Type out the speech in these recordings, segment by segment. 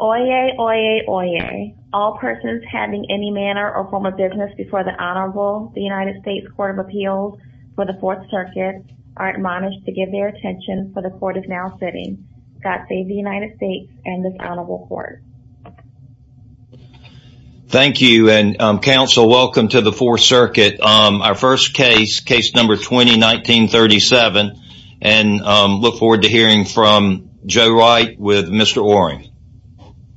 Oyez, oyez, oyez. All persons having any manner or form of business before the Honorable United States Court of Appeals for the Fourth Circuit are admonished to give their attention for the Court is now sitting. God save the United States and this Honorable Court. Thank you and counsel, welcome to the Fourth Circuit. Our first case, case number 20-1937 and look forward to hearing from Jowite with Mr. Oring.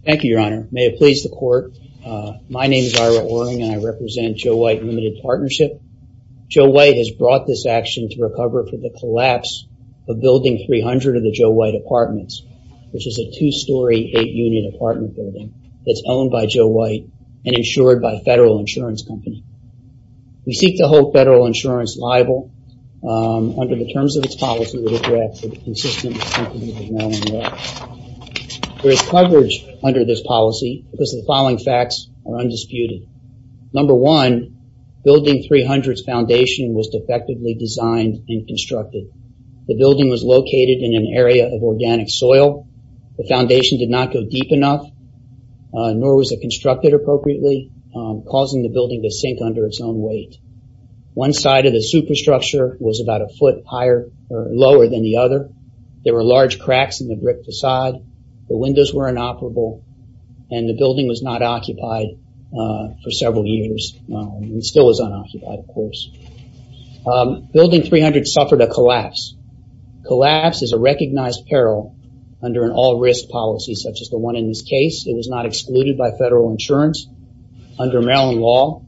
Thank you, Your Honor. May it please the Court. My name is Ira Oring and I represent Jowite Limited Partnership. Jowite has brought this action to recover from the collapse of Building 300 of the Jowite Apartments, which is a two-story, eight-unit apartment building that's owned by Jowite and insured by a federal insurance company. We seek to hold federal insurance liable under the terms of its policy. There is coverage under this policy because the following facts are undisputed. Number one, Building 300's foundation was defectively designed and constructed. The building was located in an area of organic soil. The foundation did not go deep enough, nor was it constructed appropriately, causing the building to sink under its own weight. One side of the superstructure was about a foot lower than the other. There were large cracks in the brick facade. The windows were inoperable and the building was not occupied for several years. It still is unoccupied, of course. Building 300 suffered a collapse. Collapse is a recognized peril under an all-risk policy such as the one in this case. It was not excluded by federal insurance under Maryland law.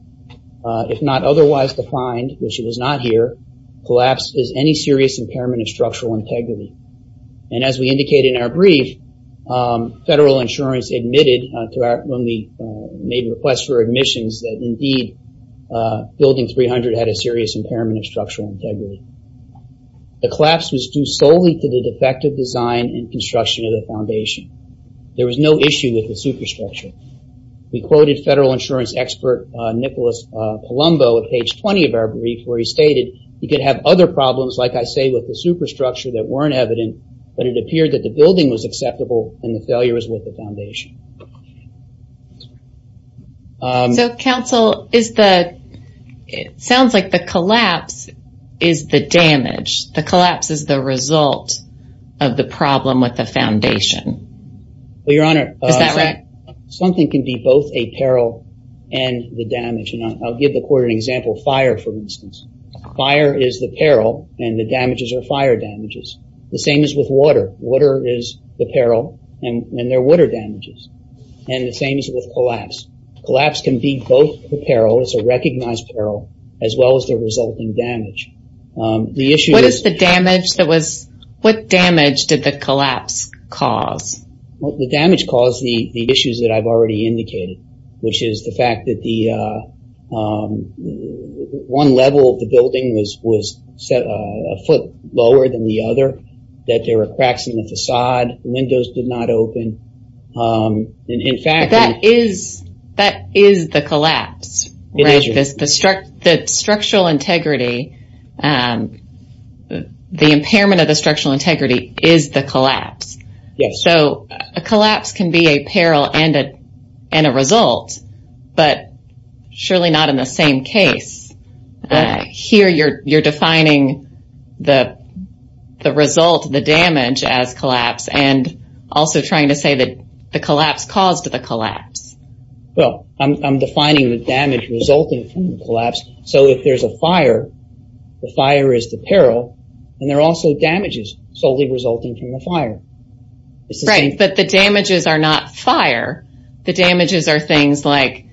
If not otherwise defined, which it was not here, collapse is any serious impairment of structural integrity. As we indicated in our brief, federal insurance admitted when we made requests for admissions that, indeed, Building 300 had a serious impairment of structural integrity. The collapse was due solely to the defective design and construction of the foundation. There was no issue with the superstructure. We quoted federal insurance expert Nicholas Palumbo at page 20 of our brief, where he stated, you could have other problems, like I say, with the superstructure that weren't evident, but it appeared that the building was acceptable and the failure was with the foundation. It sounds like the collapse is the damage. The collapse is the result of the problem with the foundation. Your Honor, something can be both a peril and the damage. I'll give the court an example. Fire, for instance. Fire is the peril and the damages are fire damages. The same is with water. Water is the peril and they're water damages. The same is with collapse. Collapse can be both a peril. It's a recognized peril as well as the resulting damage. What damage did the collapse cause? The damage caused the issues that I've already indicated, which is the fact that one level of the building was a foot lower than the other, that there were cracks in the facade, windows did not open. That is the collapse. The structural integrity, the impairment of the structural integrity is the collapse. A collapse can be a peril and a result, but surely not in the same case. Here you're defining the result, the damage, as collapse and also trying to say that the collapse caused the collapse. I'm defining the damage resulting from the collapse. If there's a fire, the fire is the peril and there are also damages solely resulting from the fire. The damages are not fire. The damages are things like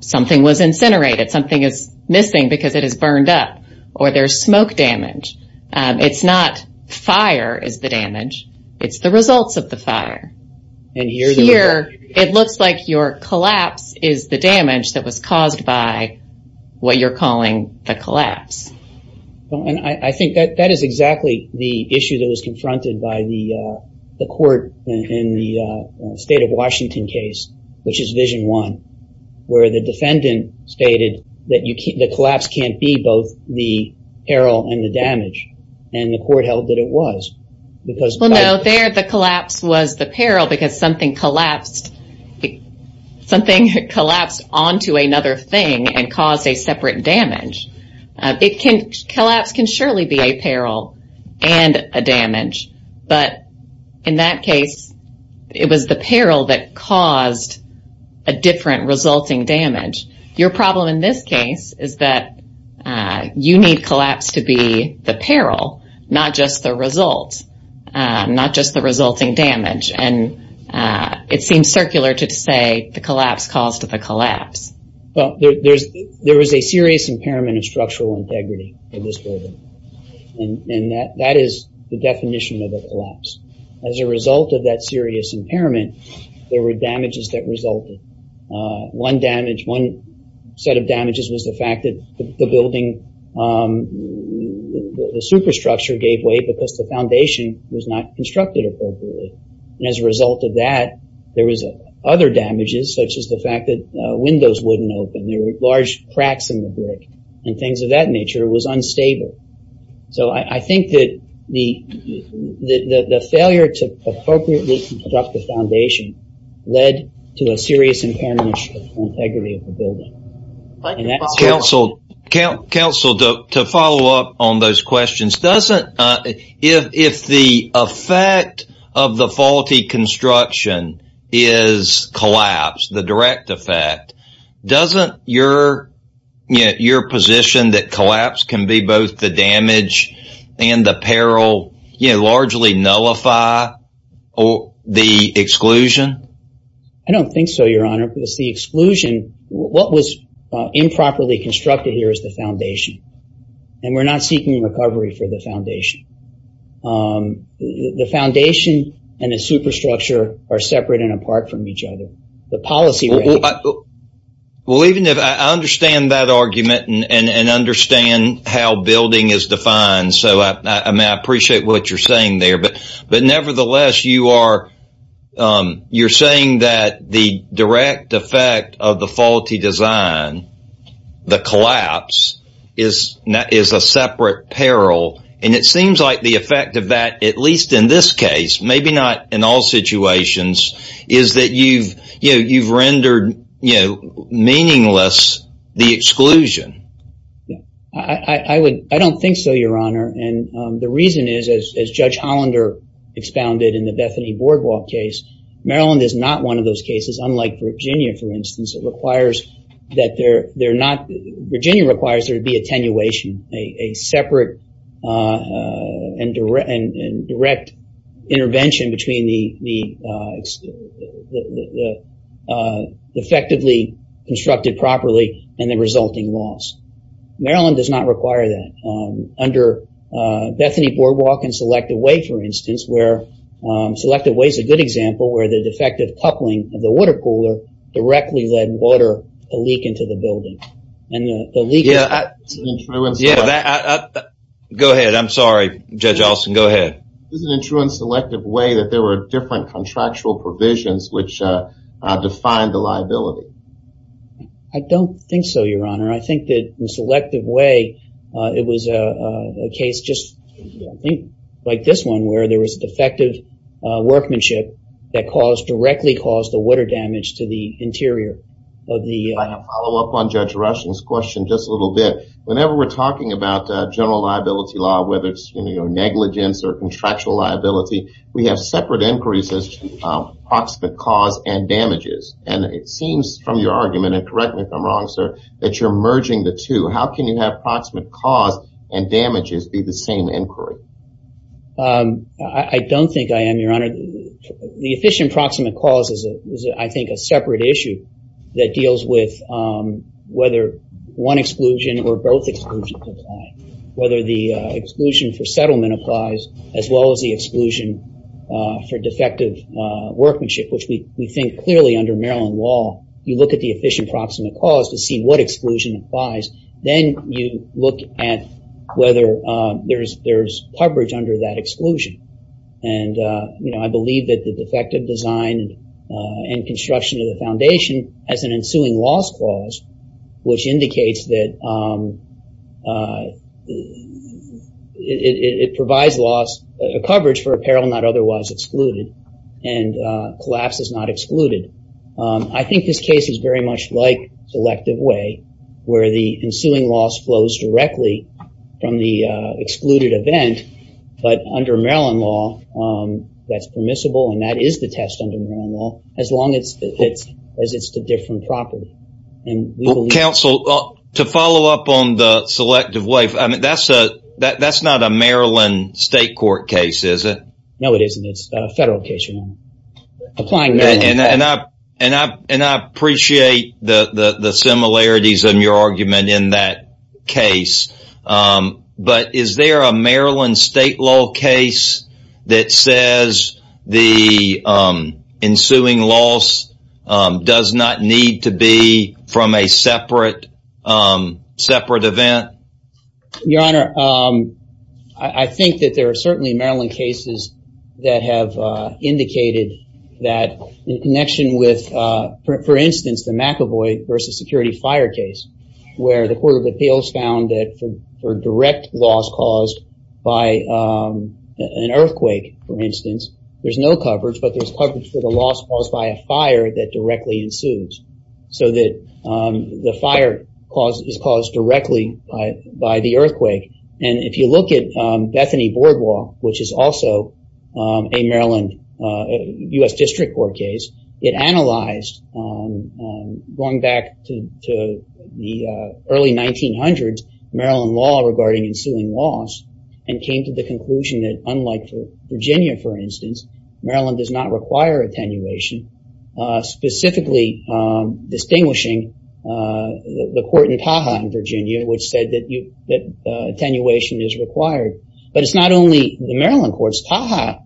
something was incinerated, something is missing because it is burned up, or there's smoke damage. It's not fire is the damage, it's the results of the fire. Here it looks like your collapse is the damage that was caused by what you're calling the collapse. I think that is exactly the issue that was confronted by the court in the state of Washington case, which is Vision 1, where the defendant stated that the collapse can't be both the peril and the damage. The court held that it was. No, there the collapse was the peril because something collapsed onto another thing and caused a separate damage. Collapse can surely be a peril and a damage, but in that case it was the peril that caused a different resulting damage. Your problem in this case is that you need collapse to be the peril, not just the result, not just the resulting damage. It seems circular to say the collapse caused the collapse. There was a serious impairment of structural integrity in this building. That is the definition of a collapse. As a result of that serious impairment, there were damages that resulted. One set of damages was the fact that the superstructure gave way because the foundation was not constructed appropriately. As a result of that, there was other damages such as the fact that windows wouldn't open. There were large cracks in the brick and things of that nature. It was unstable. I think that the failure to appropriately construct the foundation led to a serious impairment of structural integrity of the building. Counsel, to follow up on those questions, if the effect of the faulty construction is collapse, the direct effect, doesn't your position that collapse can be both the damage and the peril largely nullify the exclusion? I don't think so, Your Honor. If it's the exclusion, what was improperly constructed here is the foundation. We're not seeking recovery for the foundation. The foundation and the superstructure are separate and apart from each other. I understand that argument and understand how building is defined. I appreciate what you're saying there. Nevertheless, you're saying that the direct effect of the faulty design, the collapse, is a separate peril. It seems like the effect of that, at least in this case, maybe not in all situations, is that you've rendered meaningless the exclusion. I don't think so, Your Honor. The reason is, as Judge Hollander expounded in the Bethany Boardwalk case, Maryland is not one of those cases. Unlike Virginia, for instance, Virginia requires there to be attenuation, a separate and direct intervention between the effectively constructed properly and the resulting loss. Maryland does not require that. Under Bethany Boardwalk and Selective Way, for instance, Selective Way is a good example where the defective coupling of the water cooler directly led water to leak into the building. Go ahead. I'm sorry, Judge Alston. Go ahead. Isn't it true in Selective Way that there were different contractual provisions which defined the liability? I don't think so, Your Honor. I think that in Selective Way, it was a case just like this one where there was defective workmanship that directly caused the water damage to the interior of the building. I have a follow-up on Judge Rushing's question just a little bit. Whenever we're talking about general liability law, whether it's negligence or contractual liability, we have separate inquiries as to approximate cause and damages. It seems from your argument, and correct me if I'm wrong, sir, that you're merging the two. How can you have approximate cause and damages be the same inquiry? I don't think I am, Your Honor. The efficient approximate cause is, I think, a separate issue that deals with whether one exclusion or both exclusions apply. Whether the exclusion for settlement applies as well as the exclusion for defective workmanship, which we think clearly under Maryland law, you look at the efficient approximate cause to see what exclusion applies. Then you look at whether there's coverage under that exclusion. I believe that the defective design and construction of the foundation has an ensuing loss clause, which indicates that it provides coverage for apparel not otherwise excluded. Collapse is not excluded. I think this case is very much like Selective Way, where the ensuing loss flows directly from the excluded event. But under Maryland law, that's permissible, and that is the test under Maryland law, as long as it's a different property. Counsel, to follow up on the Selective Way, that's not a Maryland state court case, is it? No, it isn't. It's a federal case, Your Honor. And I appreciate the similarities in your argument in that case. But is there a Maryland state law case that says the ensuing loss does not need to be from a separate event? Your Honor, I think that there are certainly Maryland cases that have indicated that in connection with, for instance, the McEvoy versus security fire case, where the Court of Appeals found that for direct loss caused by an earthquake, for instance, there's no coverage, but there's coverage for the loss caused by a fire that directly ensues. So that the fire is caused directly by the earthquake. And if you look at Bethany Boardwalk, which is also a Maryland U.S. District Court case, it analyzed, going back to the early 1900s, Maryland law regarding ensuing loss and came to the conclusion that, unlike Virginia, for instance, Maryland does not require attenuation. Specifically distinguishing the court in Taha in Virginia, which said that attenuation is required. But it's not only the Maryland courts. Taha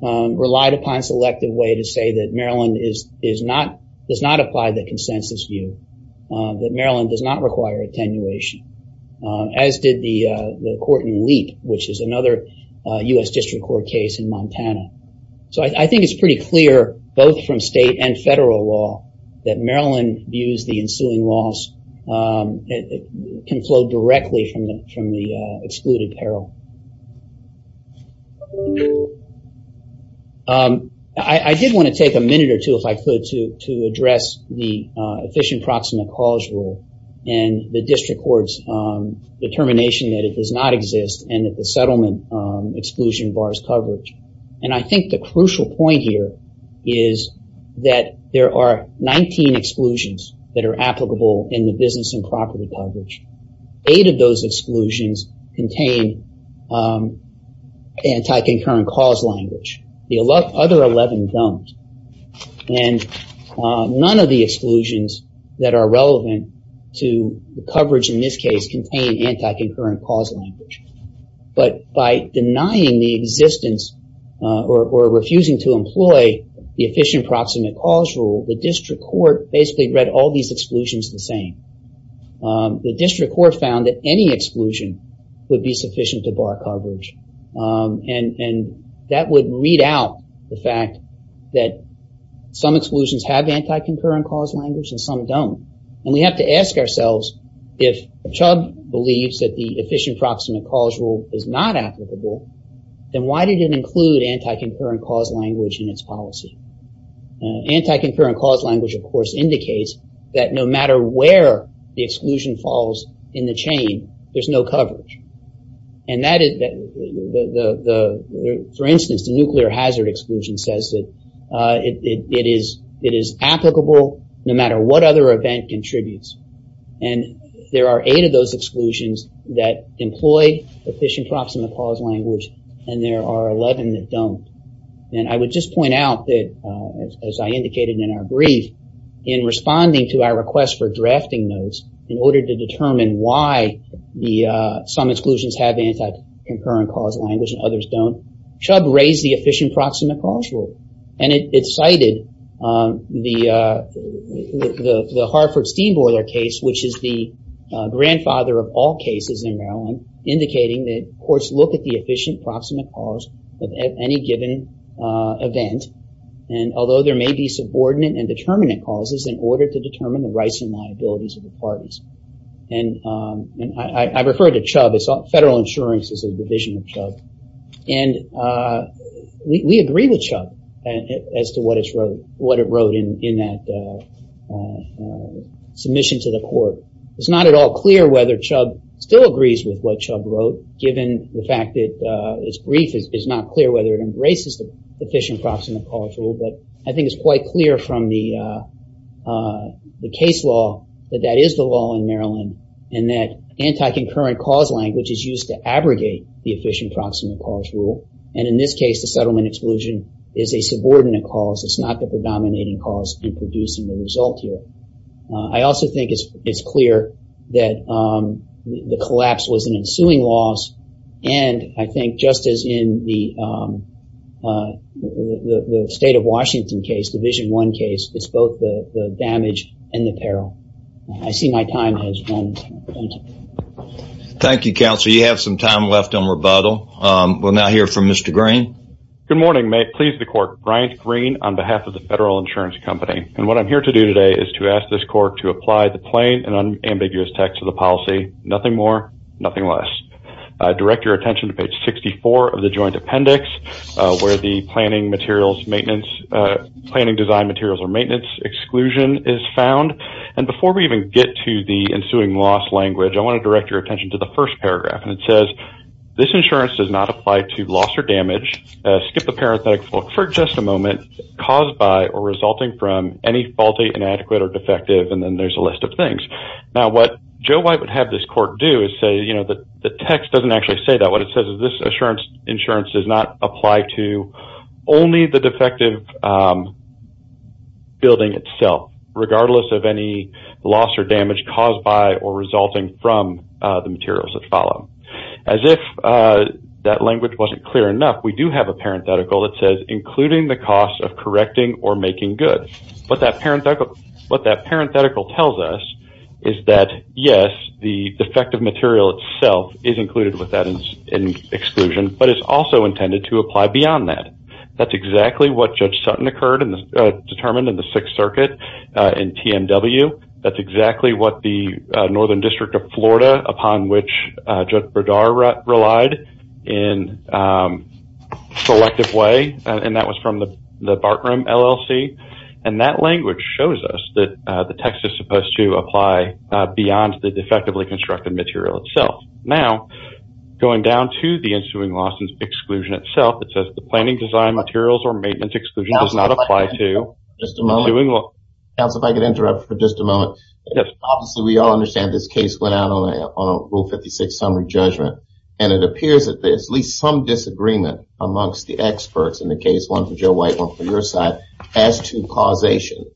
relied upon selective way to say that Maryland does not apply the consensus view. That Maryland does not require attenuation. As did the court in Leap, which is another U.S. District Court case in Montana. So I think it's pretty clear, both from state and federal law, that Maryland views the ensuing loss can flow directly from the excluded peril. I did want to take a minute or two, if I could, to address the efficient proximate cause rule and the district court's determination that it does not exist and that the settlement exclusion bars coverage. And I think the crucial point here is that there are 19 exclusions that are applicable in the business and property coverage. Eight of those exclusions contain anti-concurrent cause language. The other 11 don't. And none of the exclusions that are relevant to the coverage in this case contain anti-concurrent cause language. But by denying the existence or refusing to employ the efficient proximate cause rule, the district court basically read all these exclusions the same. The district court found that any exclusion would be sufficient to bar coverage. And that would read out the fact that some exclusions have anti-concurrent cause language and some don't. And we have to ask ourselves, if Chubb believes that the efficient proximate cause rule is not applicable, then why did it include anti-concurrent cause language in its policy? Anti-concurrent cause language, of course, indicates that no matter where the exclusion falls in the chain, there's no coverage. And for instance, the nuclear hazard exclusion says that it is applicable no matter what other event contributes. And there are eight of those exclusions that employ efficient proximate cause language, and there are 11 that don't. And I would just point out that, as I indicated in our brief, in responding to our request for drafting notes in order to determine why some exclusions have anti-concurrent cause language and others don't, Chubb raised the efficient proximate cause rule. And it cited the Hartford-Steenboiler case, which is the grandfather of all cases in Maryland, indicating that courts look at the efficient proximate cause of any given event, and although there may be subordinate and determinant causes, in order to determine the rights and liabilities of the parties. And I refer to Chubb as federal insurance as a division of Chubb. And we agree with Chubb as to what it wrote in that submission to the court. It's not at all clear whether Chubb still agrees with what Chubb wrote, given the fact that his brief is not clear whether it embraces the efficient proximate cause rule, but I think it's quite clear from the case law that that is the law in Maryland, and that anti-concurrent cause language is used to abrogate the efficient proximate cause rule. And in this case, the settlement exclusion is a subordinate cause. It's not the predominating cause in producing the result here. I also think it's clear that the collapse was an ensuing loss, and I think just as in the State of Washington case, Division I case, it's both the damage and the peril. I see my time has run out. Thank you, counsel. You have some time left on rebuttal. We'll now hear from Mr. Green. Good morning. May it please the court, Bryant Green on behalf of the Federal Insurance Company. And what I'm here to do today is to ask this court to apply the plain and unambiguous text of the policy, nothing more, nothing less. Direct your attention to page 64 of the joint appendix, where the planning materials maintenance, planning design materials or maintenance exclusion is found. And before we even get to the ensuing loss language, I want to direct your attention to the first paragraph. And it says this insurance does not apply to loss or damage. Skip the parenthetical for just a moment caused by or resulting from any faulty, inadequate or defective. And then there's a list of things. Now, what Joe White would have this court do is say, you know, that the text doesn't actually say that. What it says is this insurance does not apply to only the defective building itself, regardless of any loss or damage caused by or resulting from the materials that follow. As if that language wasn't clear enough, we do have a parenthetical that says including the cost of correcting or making good. What that parenthetical tells us is that, yes, the defective material itself is included with that exclusion, but it's also intended to apply beyond that. That's exactly what Judge Sutton occurred and determined in the Sixth Circuit in TMW. That's exactly what the Northern District of Florida, upon which Judge Berdar relied in selective way. And that was from the Bartram LLC. And that language shows us that the text is supposed to apply beyond the defectively constructed material itself. Now, going down to the ensuing losses exclusion itself, it says the planning design materials or maintenance exclusion does not apply to. Counsel, if I could interrupt for just a moment. Obviously, we all understand this case went out on a Rule 56 summary judgment. And it appears that there's at least some disagreement amongst the experts in the case, one for Joe White, one for your side, as to causation.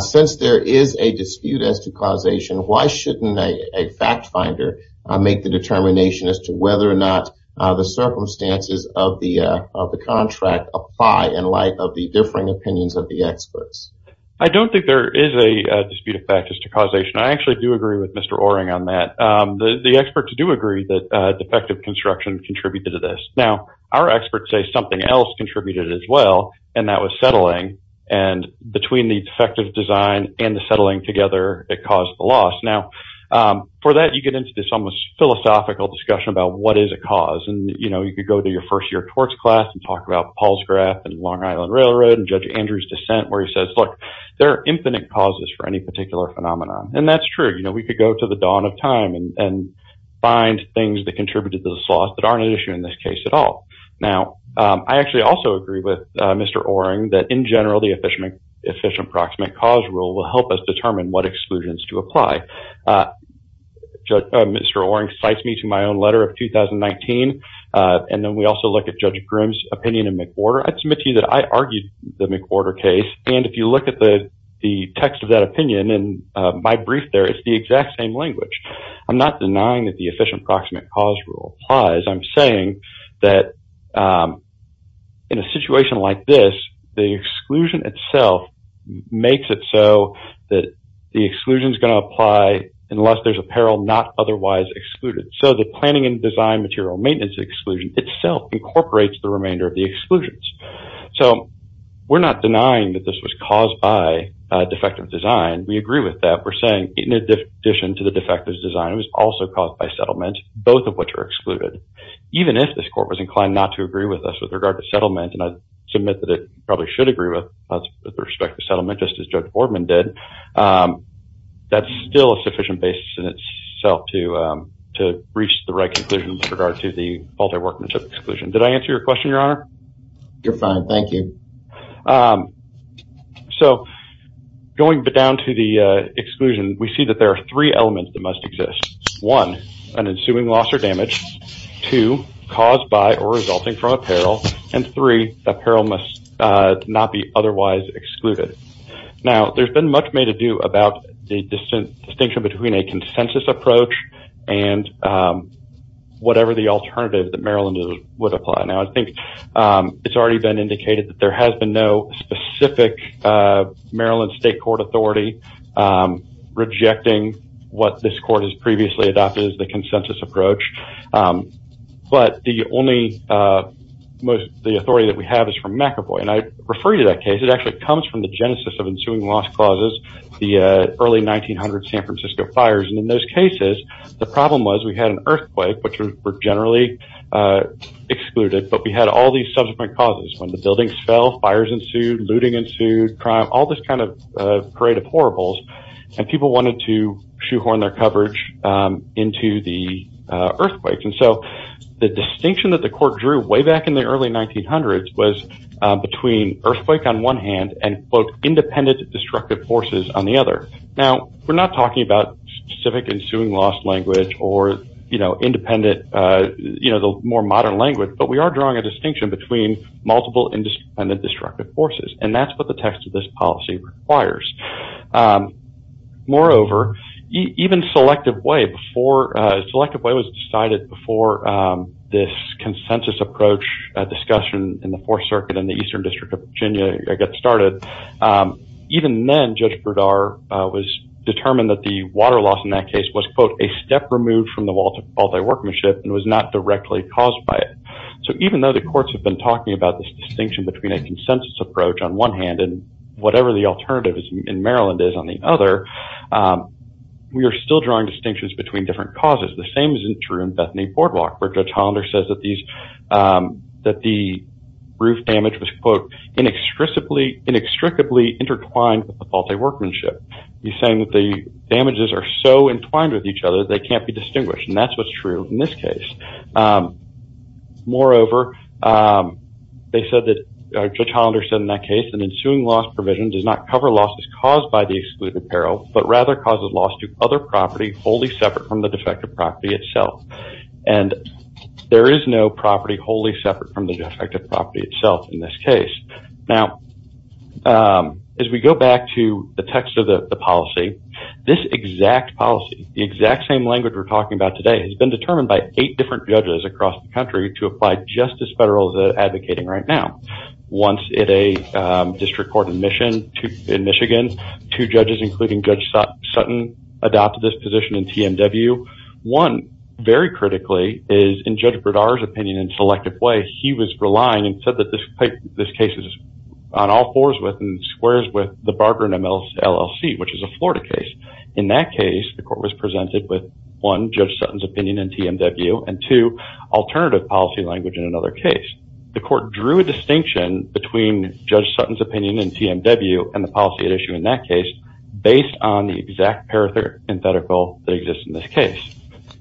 Since there is a dispute as to causation, why shouldn't a fact finder make the determination as to whether or not the circumstances of the contract apply in light of the differing opinions of the experts? I don't think there is a dispute of fact as to causation. I actually do agree with Mr. Oering on that. The experts do agree that defective construction contributed to this. Now, our experts say something else contributed as well, and that was settling. And between the defective design and the settling together, it caused the loss. Now, for that, you get into this almost philosophical discussion about what is a cause. And, you know, you could go to your first year torts class and talk about Paul's graph and Long Island Railroad and Judge Andrew's dissent, where he says, look, there are infinite causes for any particular phenomenon. And that's true. You know, we could go to the dawn of time and find things that contributed to this loss that aren't an issue in this case at all. Now, I actually also agree with Mr. Oering that in general, the efficient approximate cause rule will help us determine what exclusions to apply. Mr. Oering cites me to my own letter of 2019. And then we also look at Judge Grimm's opinion in McWhorter. I'd submit to you that I argued the McWhorter case. And if you look at the text of that opinion and my brief there, it's the exact same language. I'm not denying that the efficient approximate cause rule applies. I'm saying that in a situation like this, the exclusion itself makes it so that the exclusion is going to apply unless there's apparel not otherwise excluded. So the planning and design material maintenance exclusion itself incorporates the remainder of the exclusions. So we're not denying that this was caused by defective design. We agree with that. We're saying in addition to the defective design, it was also caused by settlement, both of which are excluded. Even if this court was inclined not to agree with us with regard to settlement, and I submit that it probably should agree with us with respect to settlement, just as Judge Boardman did. That's still a sufficient basis in itself to reach the right conclusion with regard to the multi-workmanship exclusion. Did I answer your question, Your Honor? You're fine. Thank you. So going down to the exclusion, we see that there are three elements that must exist. One, an ensuing loss or damage. Two, caused by or resulting from apparel. And three, apparel must not be otherwise excluded. Now, there's been much made to do about the distinction between a consensus approach and whatever the alternative that Maryland would apply. Now, I think it's already been indicated that there has been no specific Maryland state court authority rejecting what this court has previously adopted as the consensus approach. But the only authority that we have is from McEvoy, and I refer you to that case. It actually comes from the genesis of ensuing loss clauses, the early 1900 San Francisco fires. And in those cases, the problem was we had an earthquake, which were generally excluded. But we had all these subsequent causes. When the buildings fell, fires ensued, looting ensued, crime, all this kind of parade of horribles. And people wanted to shoehorn their coverage into the earthquakes. And so the distinction that the court drew way back in the early 1900s was between earthquake on one hand and, quote, independent destructive forces on the other. Now, we're not talking about civic ensuing lost language or, you know, independent, you know, the more modern language. But we are drawing a distinction between multiple independent destructive forces. And that's what the text of this policy requires. Moreover, even Selective Way before Selective Way was decided before this consensus approach discussion in the Fourth Circuit in the Eastern District of Virginia got started. Even then, Judge Brodar was determined that the water loss in that case was, quote, a step removed from the multi-workmanship and was not directly caused by it. So even though the courts have been talking about this distinction between a consensus approach on one hand and whatever the alternative in Maryland is on the other, we are still drawing distinctions between different causes. The same isn't true in Bethany Boardwalk, where Judge Hollander says that the roof damage was, quote, inextricably intertwined with the multi-workmanship. He's saying that the damages are so entwined with each other, they can't be distinguished. And that's what's true in this case. Moreover, Judge Hollander said in that case, an ensuing loss provision does not cover losses caused by the excluded peril, but rather causes loss to other property wholly separate from the defective property itself. And there is no property wholly separate from the defective property itself in this case. Now, as we go back to the text of the policy, this exact policy, the exact same language we're talking about today, has been determined by eight different judges across the country to apply just as federal as they're advocating right now. Once at a district court in Michigan, two judges, including Judge Sutton, adopted this position in TMW. One, very critically, is in Judge Berdara's opinion in a selective way, he was relying and said that this case is on all fours with and squares with the Barber and LLC, which is a Florida case. In that case, the court was presented with, one, Judge Sutton's opinion in TMW, and two, alternative policy language in another case. The court drew a distinction between Judge Sutton's opinion in TMW and the policy at issue in that case based on the exact parenthetical that exists in this case.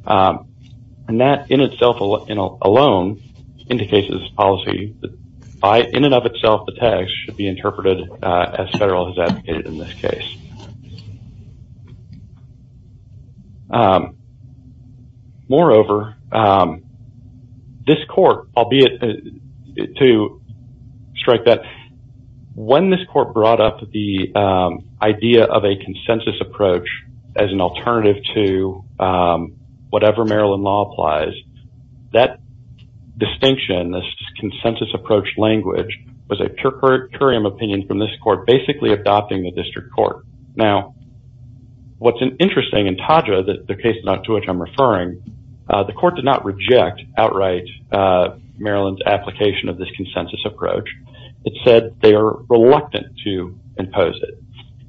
And that in itself alone indicates that this policy, in and of itself, the text, should be interpreted as federal as advocated in this case. Moreover, this court, albeit to strike that, when this court brought up the idea of a consensus approach as an alternative to whatever Maryland law applies, that distinction, this consensus approach language, was a curiam opinion from this court basically adopting the district court. Now, what's interesting in TAJA, the case to which I'm referring, the court did not reject outright Maryland's application of this consensus approach. It said they are reluctant to impose it.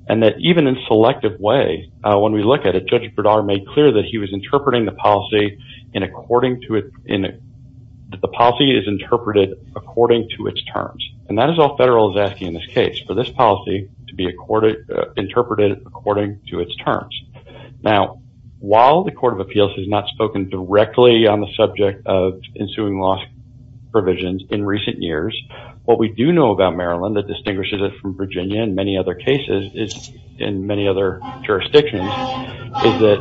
And that even in selective way, when we look at it, Judge Bredar made clear that he was interpreting the policy in according to it, that the policy is interpreted according to its terms. And that is all federal is asking in this case, for this policy to be interpreted according to its terms. Now, while the Court of Appeals has not spoken directly on the subject of ensuing loss provisions in recent years, what we do know about Maryland that distinguishes it from Virginia and many other cases in many other jurisdictions, is that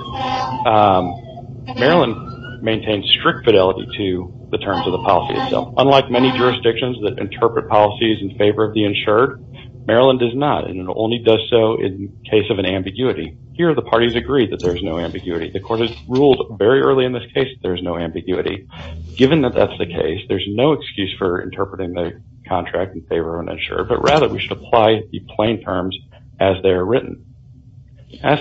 Maryland maintains strict fidelity to the terms of the policy itself. Unlike many jurisdictions that interpret policies in favor of the insured, Maryland does not. And it only does so in case of an ambiguity. Here, the parties agree that there's no ambiguity. The court has ruled very early in this case that there's no ambiguity. Given that that's the case, there's no excuse for interpreting the contract in favor of an insurer. But rather, we should apply the plain terms as they are written.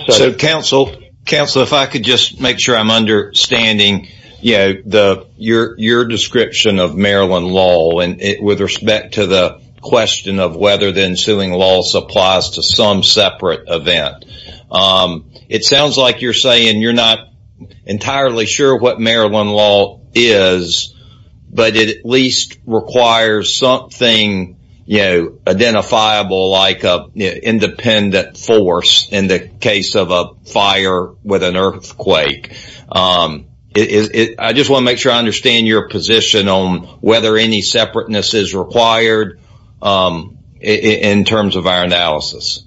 So, counsel, if I could just make sure I'm understanding your description of Maryland law with respect to the question of whether the ensuing loss applies to some separate event. It sounds like you're saying you're not entirely sure what Maryland law is, but it at least requires something identifiable like an independent force in the case of a fire with an earthquake. I just want to make sure I understand your position on whether any separateness is required in terms of our analysis.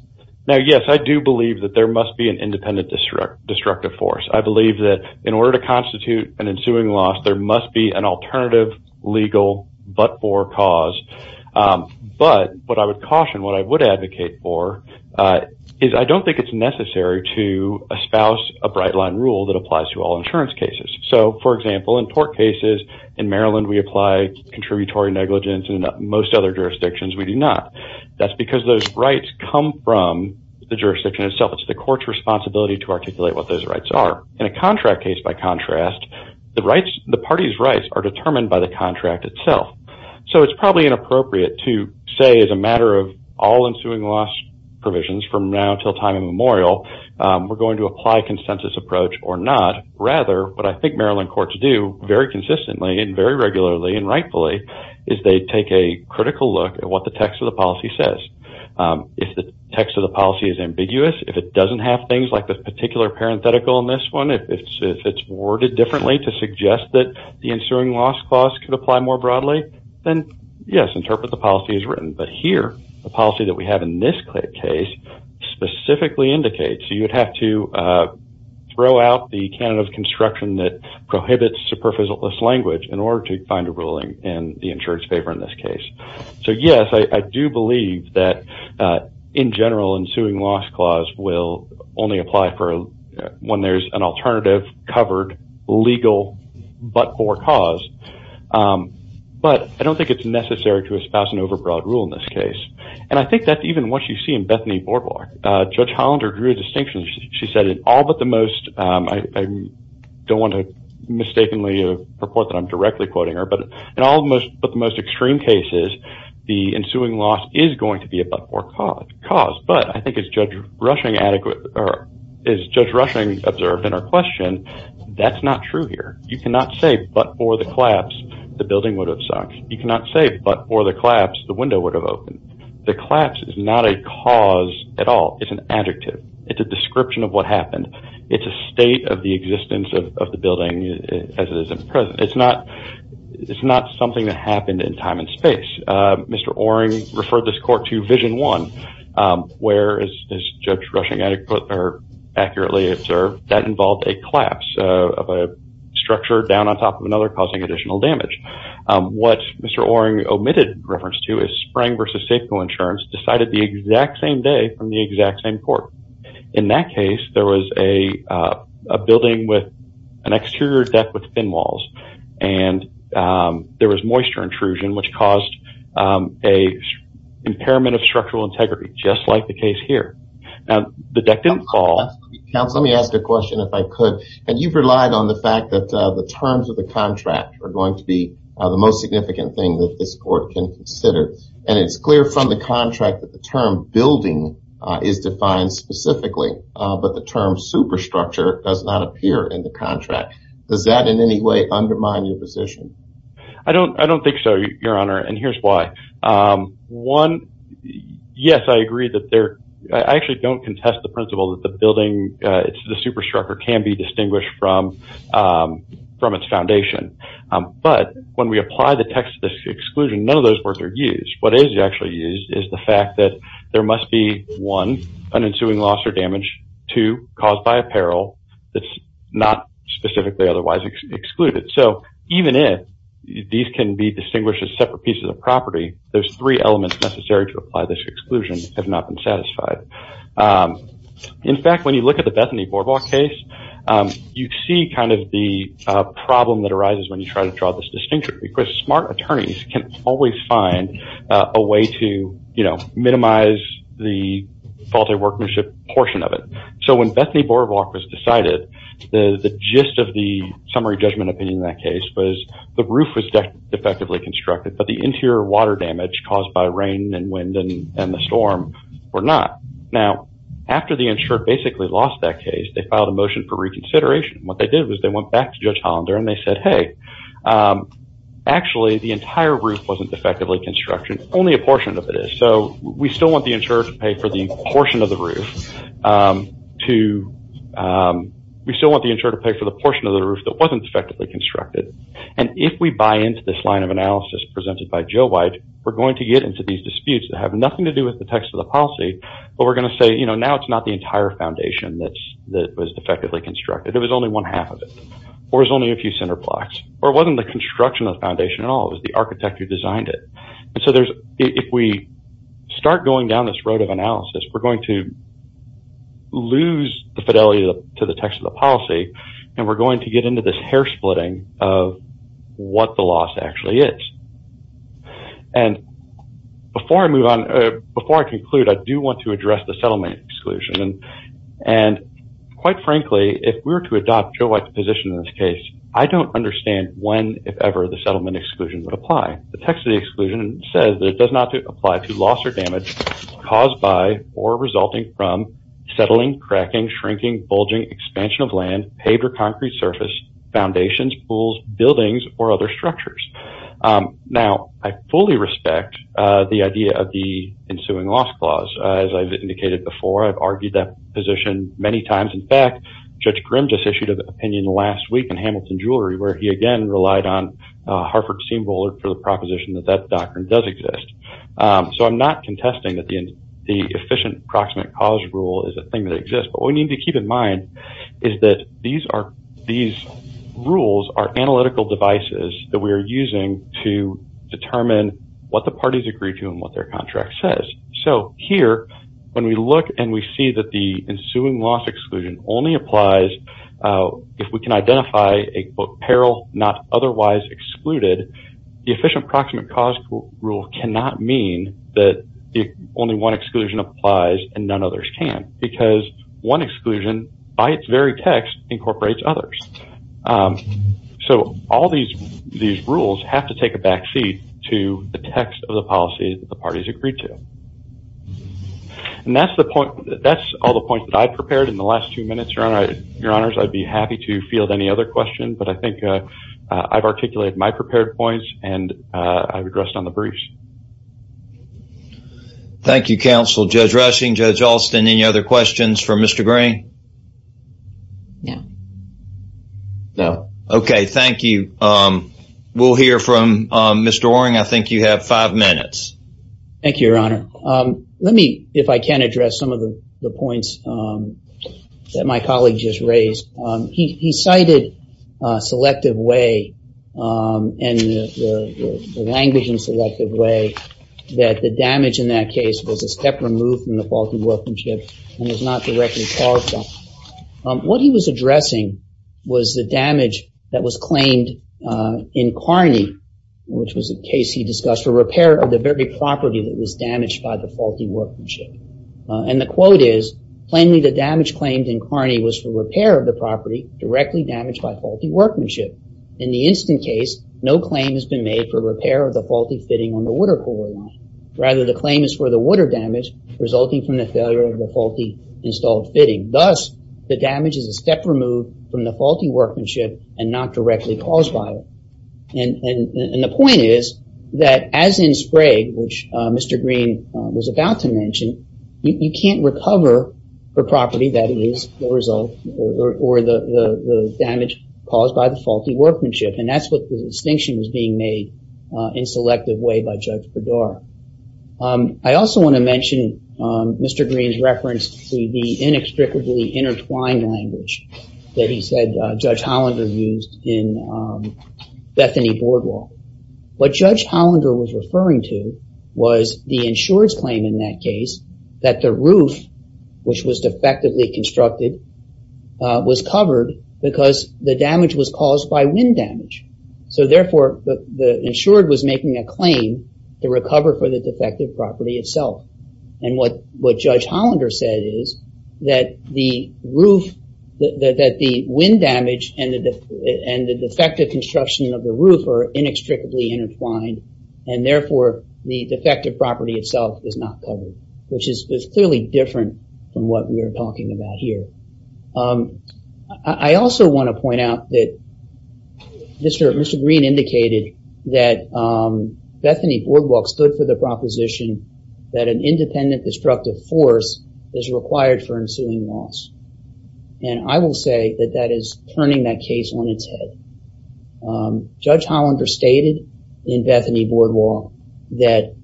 Now, yes, I do believe that there must be an independent destructive force. I believe that in order to constitute an ensuing loss, there must be an alternative legal but-for cause. But what I would caution, what I would advocate for, is I don't think it's necessary to espouse a bright-line rule that applies to all insurance cases. So, for example, in tort cases in Maryland, we apply contributory negligence. In most other jurisdictions, we do not. That's because those rights come from the jurisdiction itself. It's the court's responsibility to articulate what those rights are. In a contract case, by contrast, the parties' rights are determined by the contract itself. So, it's probably inappropriate to say as a matter of all ensuing loss provisions from now until time immemorial, we're going to apply a consensus approach or not. Rather, what I think Maryland courts do very consistently and very regularly and rightfully is they take a critical look at what the text of the policy says. If the text of the policy is ambiguous, if it doesn't have things like this particular parenthetical in this one, if it's worded differently to suggest that the ensuing loss clause could apply more broadly, then, yes, interpret the policy as written. But here, the policy that we have in this case specifically indicates. So, you would have to throw out the canon of construction that prohibits superficialist language in order to find a ruling in the insurer's favor in this case. So, yes, I do believe that, in general, ensuing loss clause will only apply when there's an alternative covered legal but for cause. But I don't think it's necessary to espouse an overbroad rule in this case. And I think that's even what you see in Bethany Boardwalk. In fact, Judge Hollander drew a distinction. She said, in all but the most, I don't want to mistakenly report that I'm directly quoting her, but in all but the most extreme cases, the ensuing loss is going to be a but for cause. But I think as Judge Rushing observed in her question, that's not true here. You cannot say, but for the collapse, the building would have sunk. You cannot say, but for the collapse, the window would have opened. The collapse is not a cause at all. It's an adjective. It's a description of what happened. It's a state of the existence of the building as it is present. It's not something that happened in time and space. Mr. Oring referred this court to Vision 1, where, as Judge Rushing accurately observed, that involved a collapse of a structure down on top of another, causing additional damage. What Mr. Oring omitted reference to is Spring v. Safeco Insurance decided the exact same day from the exact same court. In that case, there was a building with an exterior deck with thin walls, and there was moisture intrusion, which caused an impairment of structural integrity, just like the case here. Now, the deck didn't fall. Counsel, let me ask a question if I could. You've relied on the fact that the terms of the contract are going to be the most significant thing that this court can consider, and it's clear from the contract that the term building is defined specifically, but the term superstructure does not appear in the contract. Does that in any way undermine your position? I don't think so, Your Honor, and here's why. One, yes, I agree that there – I actually don't contest the principle that the building, the superstructure can be distinguished from its foundation. But when we apply the text of this exclusion, none of those words are used. What is actually used is the fact that there must be, one, an ensuing loss or damage, two, caused by apparel that's not specifically otherwise excluded. So even if these can be distinguished as separate pieces of property, those three elements necessary to apply this exclusion have not been satisfied. In fact, when you look at the Bethany Borvalk case, you see kind of the problem that arises when you try to draw this distinction, because smart attorneys can always find a way to, you know, minimize the faulty workmanship portion of it. So when Bethany Borvalk was decided, the gist of the summary judgment opinion in that case was the roof was defectively constructed, but the interior water damage caused by rain and wind and the storm were not. Now, after the insurer basically lost that case, they filed a motion for reconsideration. What they did was they went back to Judge Hollander and they said, hey, actually the entire roof wasn't defectively constructed, only a portion of it is. So we still want the insurer to pay for the portion of the roof that wasn't defectively constructed. And if we buy into this line of analysis presented by Joe White, we're going to get into these disputes that have nothing to do with the text of the policy, but we're going to say, you know, now it's not the entire foundation that was defectively constructed. It was only one half of it, or it was only a few center blocks, or it wasn't the construction of the foundation at all. It was the architect who designed it. And so if we start going down this road of analysis, we're going to lose the fidelity to the text of the policy, and we're going to get into this hair splitting of what the loss actually is. And before I conclude, I do want to address the settlement exclusion. And quite frankly, if we were to adopt Joe White's position in this case, I don't understand when, if ever, the settlement exclusion would apply. The text of the exclusion says that it does not apply to loss or damage caused by or resulting from settling, cracking, shrinking, bulging, expansion of land, paved or concrete surface, foundations, pools, buildings, or other structures. Now, I fully respect the idea of the ensuing loss clause. As I've indicated before, I've argued that position many times. In fact, Judge Grim just issued an opinion last week in Hamilton Jewelry, where he again relied on Harford Seamroller for the proposition that that doctrine does exist. So I'm not contesting that the efficient approximate cause rule is a thing that exists. But what we need to keep in mind is that these rules are analytical devices that we are using to determine what the parties agree to and what their contract says. So here, when we look and we see that the ensuing loss exclusion only applies, if we can identify a, quote, peril not otherwise excluded, the efficient approximate cause rule cannot mean that only one exclusion applies and none others can. Because one exclusion, by its very text, incorporates others. So all these rules have to take a backseat to the text of the policy that the parties agreed to. And that's all the points that I've prepared in the last two minutes, Your Honors. I'd be happy to field any other questions, but I think I've articulated my prepared points and I've addressed on the briefs. Thank you, Counsel. Judge Rushing, Judge Alston, any other questions for Mr. Green? No. No. Okay, thank you. We'll hear from Mr. Waring. I think you have five minutes. Thank you, Your Honor. Let me, if I can, address some of the points that my colleague just raised. He cited selective way and language in selective way that the damage in that case was a step removed from the faulted workmanship and was not directly caused. What he was addressing was the damage that was claimed in Kearney, which was a case he discussed, for repair of the very property that was damaged by the faulty workmanship. And the quote is, plainly the damage claimed in Kearney was for repair of the property directly damaged by faulty workmanship. In the instant case, no claim has been made for repair of the faulty fitting on the water cooler line. Rather, the claim is for the water damage resulting from the failure of the faulty installed fitting. Thus, the damage is a step removed from the faulty workmanship and not directly caused by it. And the point is that as in Sprague, which Mr. Green was about to mention, you can't recover the property that is the result or the damage caused by the faulty workmanship. And that's what the distinction was being made in selective way by Judge Bedard. I also want to mention Mr. Green's reference to the inextricably intertwined language that he said Judge Hollander used in Bethany Boardwalk. What Judge Hollander was referring to was the insured's claim in that case that the roof, which was defectively constructed, was covered because the damage was caused by wind damage. Therefore, the insured was making a claim to recover for the defective property itself. And what Judge Hollander said is that the wind damage and the defective construction of the roof are inextricably intertwined, and therefore, the defective property itself is not covered, which is clearly different from what we are talking about here. I also want to point out that Mr. Green indicated that Bethany Boardwalk stood for the proposition that an independent destructive force is required for ensuing loss. And I will say that that is turning that case on its head. Judge Hollander stated in Bethany Boardwalk that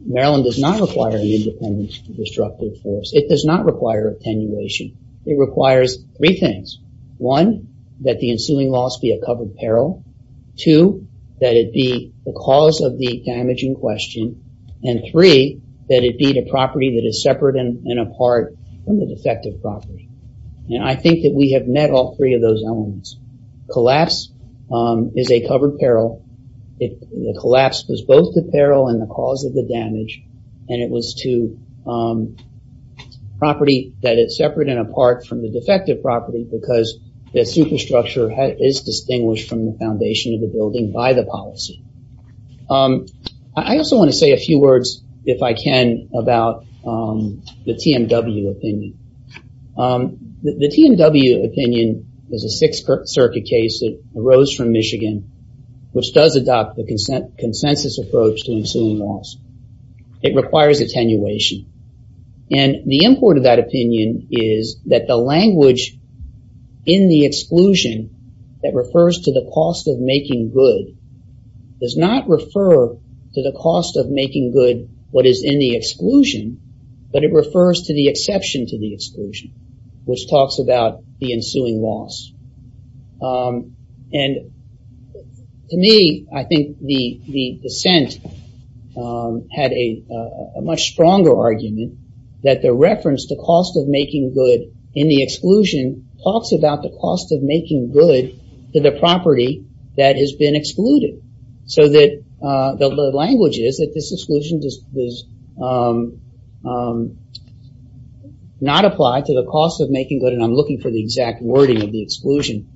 Maryland does not require an independent destructive force. It does not require attenuation. It requires three things. One, that the ensuing loss be a covered peril. Two, that it be the cause of the damage in question. And three, that it be the property that is separate and apart from the defective property. And I think that we have met all three of those elements. Collapse is a covered peril. The collapse was both the peril and the cause of the damage, and it was to property that is separate and apart from the defective property because the superstructure is distinguished from the foundation of the building by the policy. I also want to say a few words, if I can, about the TMW opinion. The TMW opinion is a Sixth Circuit case that arose from Michigan, which does adopt the consensus approach to ensuing loss. It requires attenuation. And the import of that opinion is that the language in the exclusion that refers to the cost of making good does not refer to the cost of making good what is in the exclusion, but it refers to the exception to the exclusion, which talks about the ensuing loss. And to me, I think the dissent had a much stronger argument that the reference to cost of making good in the exclusion talks about the cost of making good to the property that has been excluded. The language is that this exclusion does not apply to the cost of making good, and I'm looking for the exact wording of the exclusion.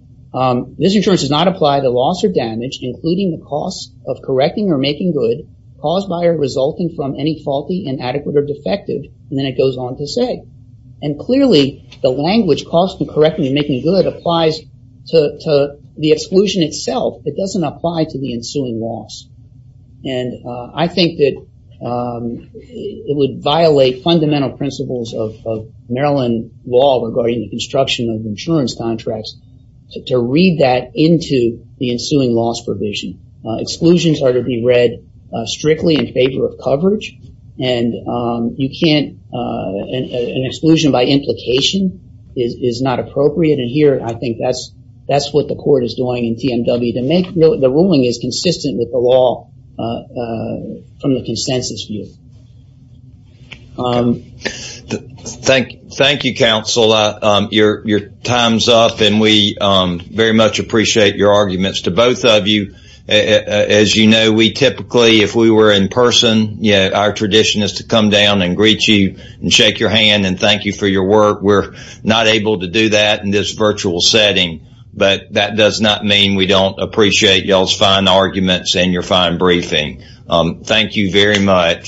This insurance does not apply to loss or damage, including the cost of correcting or making good, caused by or resulting from any faulty, inadequate, or defective, and then it goes on to say. And clearly, the language, cost of correcting and making good, applies to the exclusion itself. It doesn't apply to the ensuing loss. And I think that it would violate fundamental principles of Maryland law regarding the construction of insurance contracts to read that into the ensuing loss provision. Exclusions are to be read strictly in favor of coverage, and an exclusion by implication is not appropriate. And here, I think that's what the court is doing in TMW. The ruling is consistent with the law from the consensus view. Thank you, counsel. Your time's up, and we very much appreciate your arguments. To both of you, as you know, we typically, if we were in person, our tradition is to come down and greet you and shake your hand and thank you for your work. We're not able to do that in this virtual setting, but that does not mean we don't appreciate y'all's fine arguments and your fine briefing. Thank you very much.